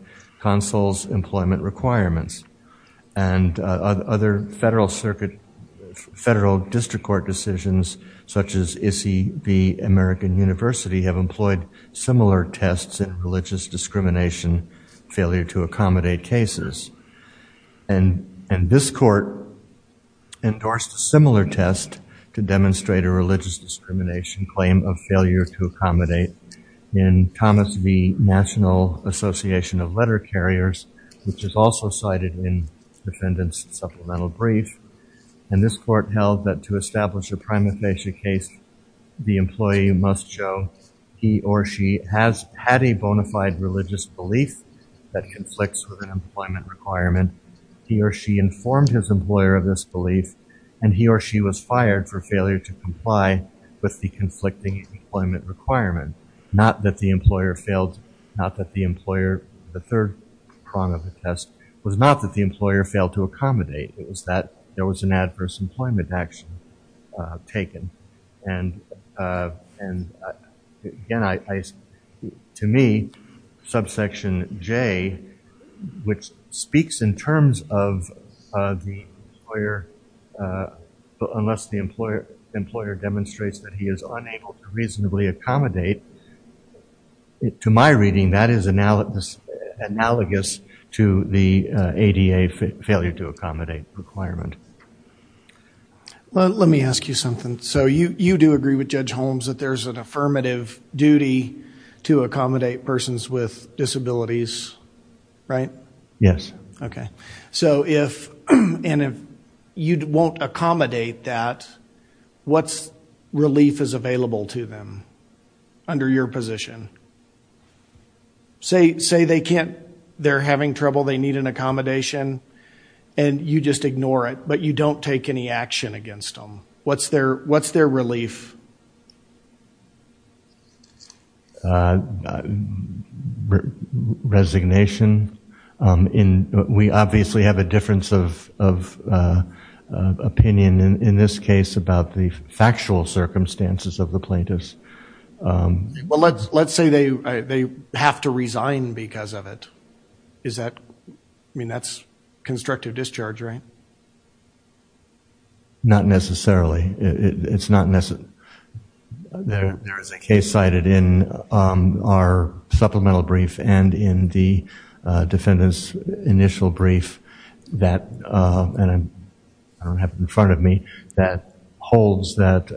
other federal circuit, federal district court decisions, such as ICI, the American university have employed similar tests and religious discrimination failure to accommodate cases. And, and this court endorsed a similar test to demonstrate a religious discrimination claim of failure to accommodate in Thomas V national association of letter carriers, which is also cited in defendant's supplemental brief. And this court held that to establish a prima facie case, the employee must show he or she has had a bona fide religious belief that conflicts with an employment requirement. He or she informed his employer of this belief and he or she was fired for failure to comply with the conflicting employment requirement. Not that the employer failed, not that the employer, the third prong of the test was not that the employer failed to accommodate. It was that there was an adverse employment action taken. And, and again, I, to me, subsection J, which speaks in terms of the employer, unless the employer, the employer demonstrates that he is unable to reasonably accommodate to my reading, that is analogous to the ADA failure to accommodate requirement. Well, let me ask you something. So you, you do agree with judge Holmes that there's an affirmative duty to accommodate persons with disabilities, right? Yes. Okay. So if, and if you won't accommodate that, what's relief is available to them under your position? Say, say they can't, they're having trouble, they need an accommodation and you just ignore it, but you don't take any action against them. What's their, what's their relief? Resignation. In, we obviously have a difference of, of opinion in this case about the factual circumstances of the plaintiffs. Well, let's, let's say they, they have to resign because of it. Is that, I mean, that's constructive discharge, right? Not necessarily. It's not necessarily. There, there is a case cited in our supplemental brief and in the defendant's initial brief that, and I don't have it in front of me, that holds that,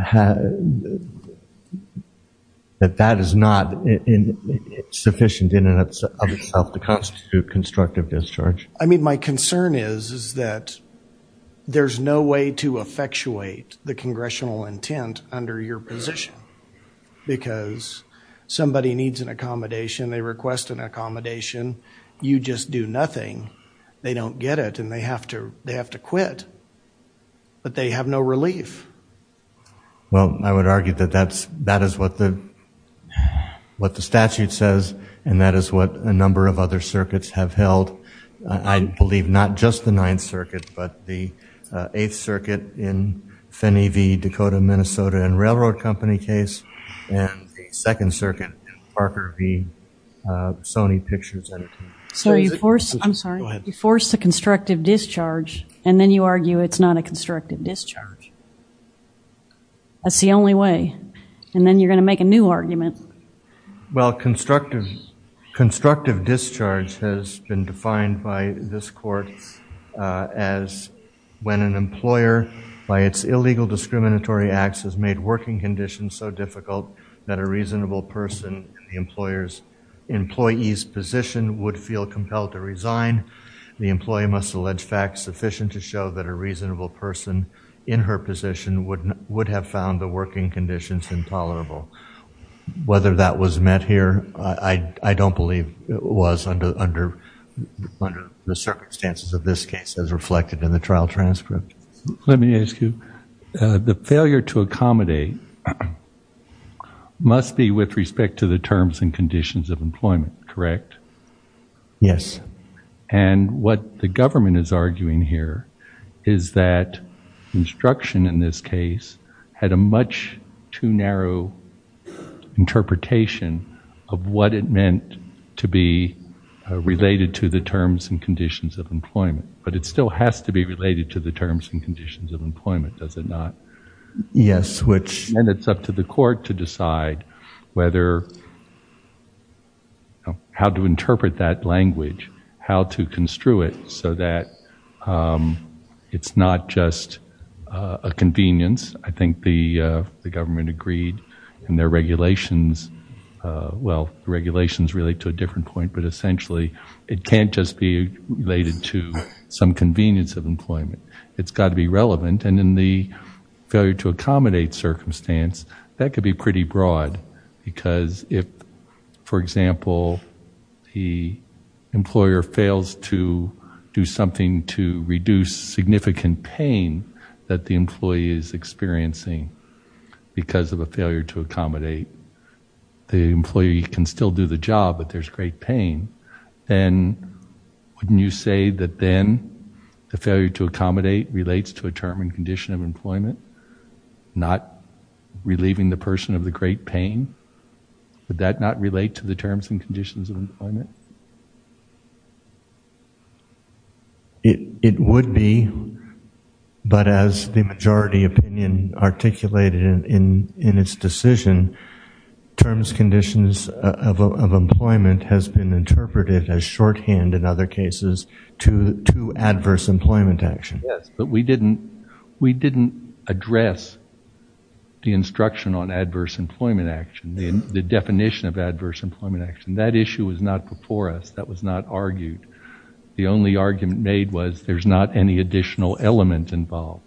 that that is not sufficient in and of itself to constitute constructive discharge. I mean, my concern is, is that there's no way to effectuate the congressional intent under your position because somebody needs an accommodation. They request an accommodation. You just do nothing. They don't get it and they have to, they have to quit, but they have no relief. Well, I would argue that that's, that is what the, what the statute says and that is what a number of other circuits have held. I believe not just the Ninth Circuit, but the Eighth Circuit in Finney v. Dakota, Minnesota and Railroad Company case and the Second Circuit in Parker v. Sony Pictures. So you force, I'm sorry, you force the constructive discharge and then you argue it's not a constructive discharge. That's the only way. And then you're going to make a new argument. Well, constructive, constructive discharge has been defined by this court as when an employer by its illegal discriminatory acts has made working conditions so difficult that a reasonable person in the employer's, employee's position would feel compelled to resign. The employee must allege facts sufficient to show that a reasonable person in her position would have found the working conditions intolerable. Whether that was met here, I don't believe it was under the circumstances of this case as reflected in the trial transcript. Let me ask you, the failure to accommodate must be with respect to the terms and conditions of employment, correct? Yes. And what the government is arguing here is that instruction in this case had a much too narrow interpretation of what it meant to be related to the terms and conditions of employment. But it still has to be related to the terms and conditions of employment, does it not? Yes. And it's up to the court to decide whether, how to interpret that language, how to construe it so that it's not just a convenience. I think the government agreed in their regulations, well, regulations relate to a different point, but essentially it can't just be related to some convenience of employment. It's got to be failure to accommodate circumstance. That could be pretty broad because if, for example, the employer fails to do something to reduce significant pain that the employee is experiencing because of a failure to accommodate, the employee can still do the job, but there's great pain. Then wouldn't you say that then the failure to accommodate relates to a term and condition of employment, not relieving the person of the great pain? Would that not relate to the terms and conditions of employment? It would be, but as the majority opinion articulated in its decision, terms, conditions of employment has been interpreted as shorthand in other cases to adverse employment action. Yes, but we didn't address the instruction on adverse employment action, the definition of adverse employment action. That issue was not before us. That was not argued. The only argument made was there's not any additional element involved.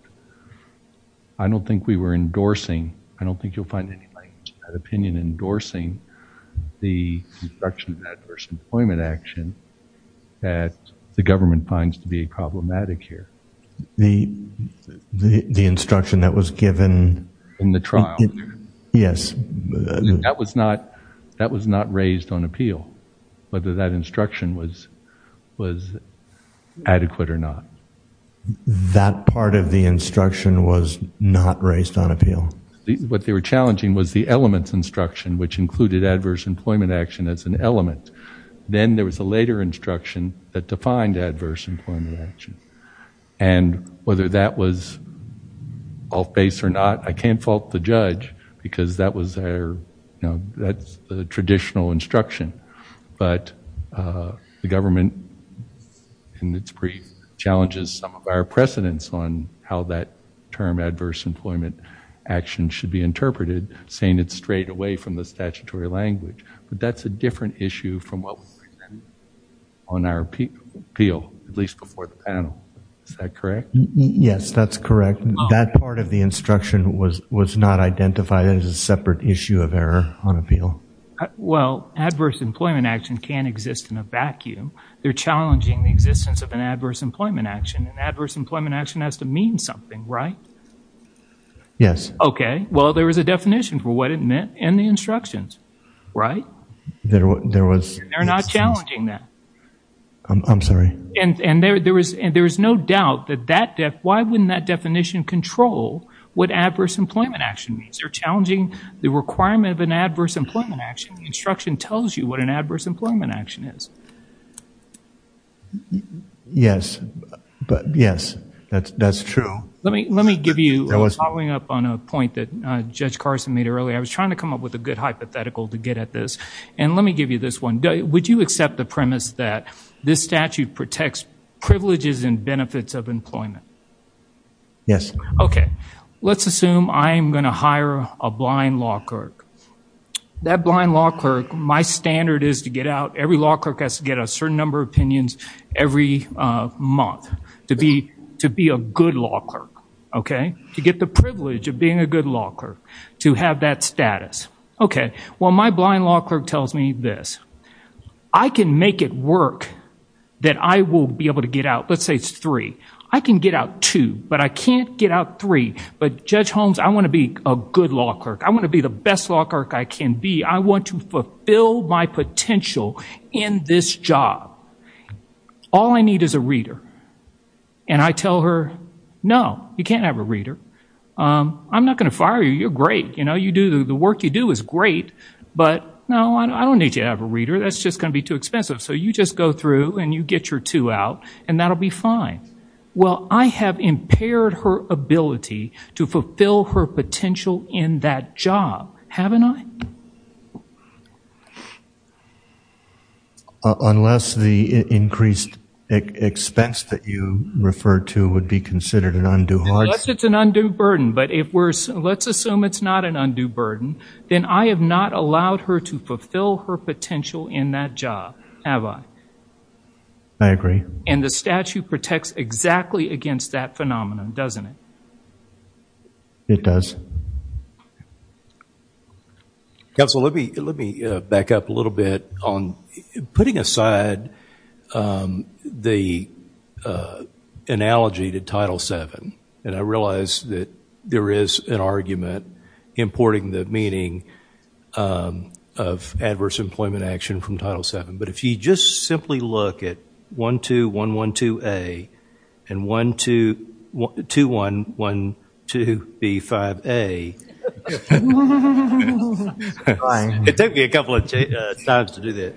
I don't think we were endorsing, I don't think you'll find any language in that opinion, endorsing the instruction of adverse employment action that the government finds to be problematic here. The instruction that was given in the trial? Yes. That was not raised on appeal, whether that instruction was adequate or not. That part of the instruction was not raised on appeal. What they were challenging was the elements instruction, which included adverse employment action as an element. Then there was a later instruction that defined adverse employment action, and whether that was off base or not, I can't fault the judge because that was their, that's the traditional instruction, but the government in its brief challenges some of our precedents on how that term adverse employment action should be interpreted, saying it's straight away from the statutory language. But that's a different issue from what was presented on our appeal, at least before the panel. Is that correct? Yes, that's correct. That part of the instruction was not identified as a separate issue of error on appeal. Well, adverse employment action can exist in a vacuum. They're challenging the existence of adverse employment action, and adverse employment action has to mean something, right? Yes. Okay. Well, there was a definition for what it meant in the instructions, right? There was. They're not challenging that. I'm sorry. And there is no doubt that that, why wouldn't that definition control what adverse employment action means? They're challenging the requirement of an adverse employment action. The instruction tells you what an adverse employment action means. Yes, that's true. Let me give you, following up on a point that Judge Carson made earlier, I was trying to come up with a good hypothetical to get at this, and let me give you this one. Would you accept the premise that this statute protects privileges and benefits of employment? Yes. Okay. Let's assume I'm going to hire a blind law clerk. That blind law clerk, my standard is to get out, every law clerk has to get a certain number of month to be a good law clerk, okay? To get the privilege of being a good law clerk, to have that status. Okay. Well, my blind law clerk tells me this. I can make it work that I will be able to get out, let's say it's three. I can get out two, but I can't get out three. But Judge Holmes, I want to be a good law clerk. I want to be the best law clerk I can be. I want to fulfill my potential in this job. All I need is a reader. And I tell her, no, you can't have a reader. I'm not going to fire you. You're great. You do the work you do is great, but no, I don't need you to have a reader. That's just going to be too expensive. So you just go through and you get your two out and that'll be fine. Well, I have impaired her potential. Unless the increased expense that you referred to would be considered an undue hardship. Unless it's an undue burden, but let's assume it's not an undue burden, then I have not allowed her to fulfill her potential in that job, have I? I agree. And the statute protects exactly against that phenomenon, doesn't it? It does. Counsel, let me back up a little bit on putting aside the analogy to Title VII. And I realize that there is an argument importing the meaning of adverse employment action from Title VII. But if you just simply look at 12112A and 2112B5A, it took me a couple of times to do that.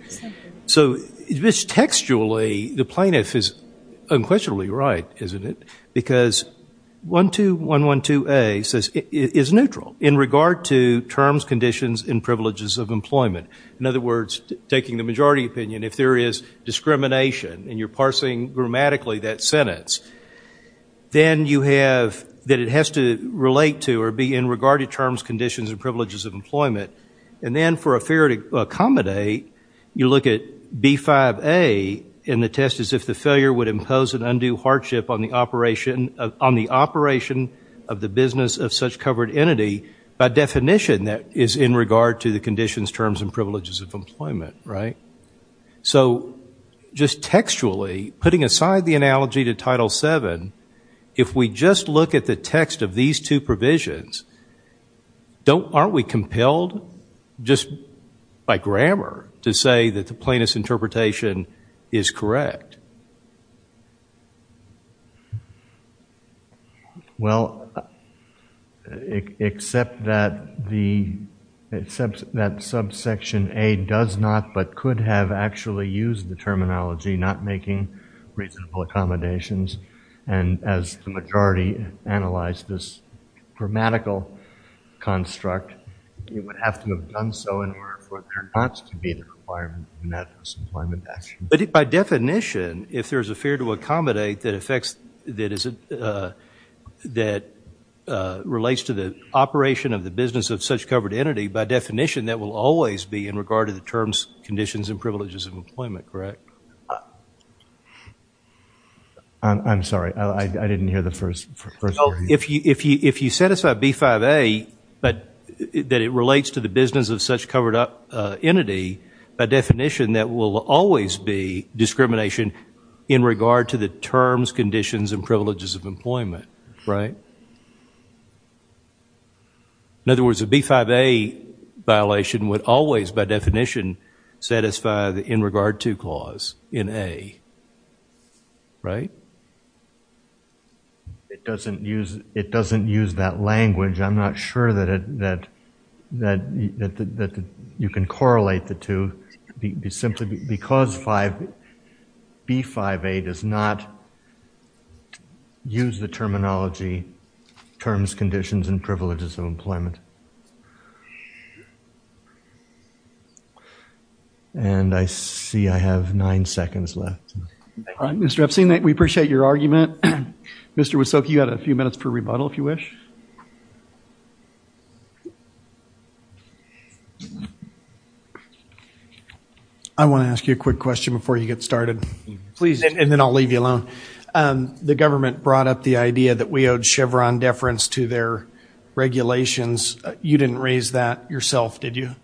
So this textually, the plaintiff is unquestionably right, isn't it? Because 12112A is neutral in regard to terms, conditions, and privileges of employment. In other words, taking the majority opinion, if there is discrimination and you're parsing grammatically that sentence, then you have that it has to relate to or be in regard to terms, conditions, and privileges of employment. And then for a fear to accommodate, you look at B5A in the test as if the failure would impose an undue hardship on the operation of the business of such covered entity by definition that is in regard to the conditions, terms, and privileges of employment. So just textually, putting aside the analogy to Title VII, if we just look at the text of these two provisions, aren't we compelled just by grammar to say that the plaintiff's interpretation is correct? Well, except that subsection A does not but could have actually used the terminology, not making reasonable accommodations, and as the majority analyzed this grammatical construct, it would have to have done so in order for there not to be the requirement in that employment action. But by definition, if there is a fear to accommodate that relates to the operation of the business of such covered entity, by definition that will always be in regard to the terms, conditions, and privileges of employment, correct? I'm sorry. I didn't hear the first part. If you set aside B5A that it relates to the business of such covered entity, by definition that will always be discrimination in regard to the terms, conditions, and privileges of employment, right? In other words, a B5A violation would always, by definition, satisfy the in regard to clause in A, right? It doesn't use that language. I'm not sure that you can correlate the two simply because B5A does not use the terminology terms, conditions, and privileges of employment. And I see I have nine seconds left. Mr. Epstein, we appreciate your argument. Mr. Wysoki, you had a few minutes for rebuttal, if you wish. I want to ask you a quick question before you get started. Please, and then I'll leave you alone. The government brought up the idea that we owed Chevron deference to their regulations. You didn't raise that yourself, did you?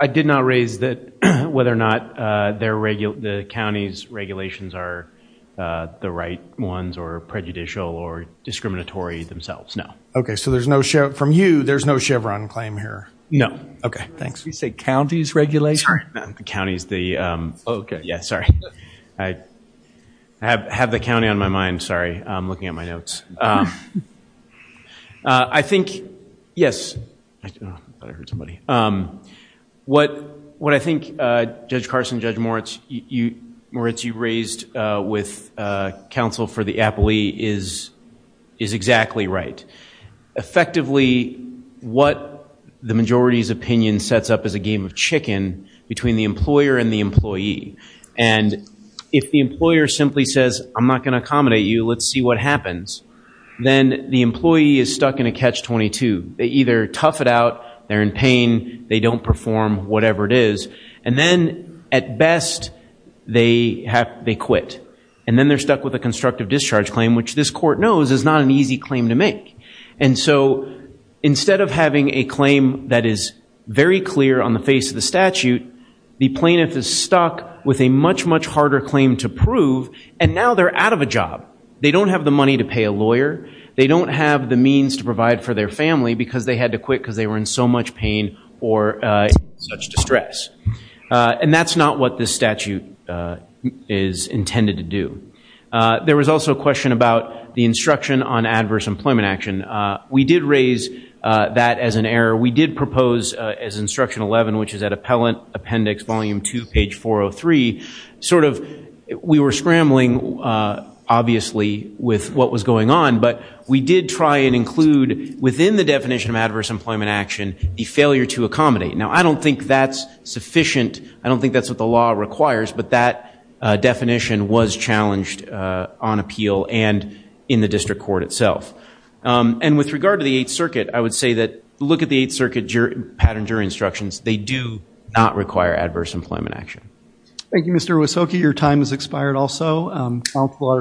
I did not raise that whether or not the county's regulations are the right ones or prejudicial or discriminatory themselves, no. OK, so from you, there's no Chevron claim here? No. OK, thanks. Did you say county's regulation? Sorry, not the county's. Yeah, sorry. I have the county on my mind. Sorry, I'm looking at my notes. I think, yes, I thought I heard somebody. What I think Judge Carson, Judge Moritz, you raised with counsel for the Applea is exactly right. Effectively, what the majority's opinion sets up is a game of chicken between the employer and the employee. And if the employer simply says, I'm not going to accommodate you. Let's see what happens. Then the employee is stuck in a catch-22. They either tough it out, they're in pain, they don't perform, whatever it is. And then, at best, they quit. And then they're stuck with a constructive discharge claim, which this court knows is not an easy claim to make. And so instead of having a claim that is very clear on the face of the statute, the plaintiff is stuck with a much, much harder claim to prove. And now they're out of a job. They don't have the money to pay a lawyer. They don't have the means to provide for their family because they had to quit because they were in so much pain or such distress. And that's not what this statute is intended to do. There was also a question about the instruction on adverse employment action. We did raise that as an error. We did propose, as Instruction 11, which is at Appellant Appendix Volume 2, Page 403, sort of, we were scrambling, obviously, with what was going on. But we did try and include, within the definition of adverse employment action, the failure to accommodate. Now, I don't think that's sufficient. I don't think that's what the law requires. But that definition was challenged on appeal and in the district court itself. And with regard to the Eighth Circuit, I would say that, look at the Eighth Circuit pattern jury instructions. They do not require adverse employment action. Thank you, Mr. Wysoki. Your time has expired also. Counsel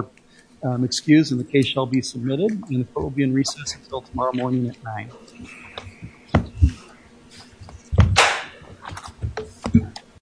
are excused and the case shall be submitted. And the court will be in recess until tomorrow morning at 9.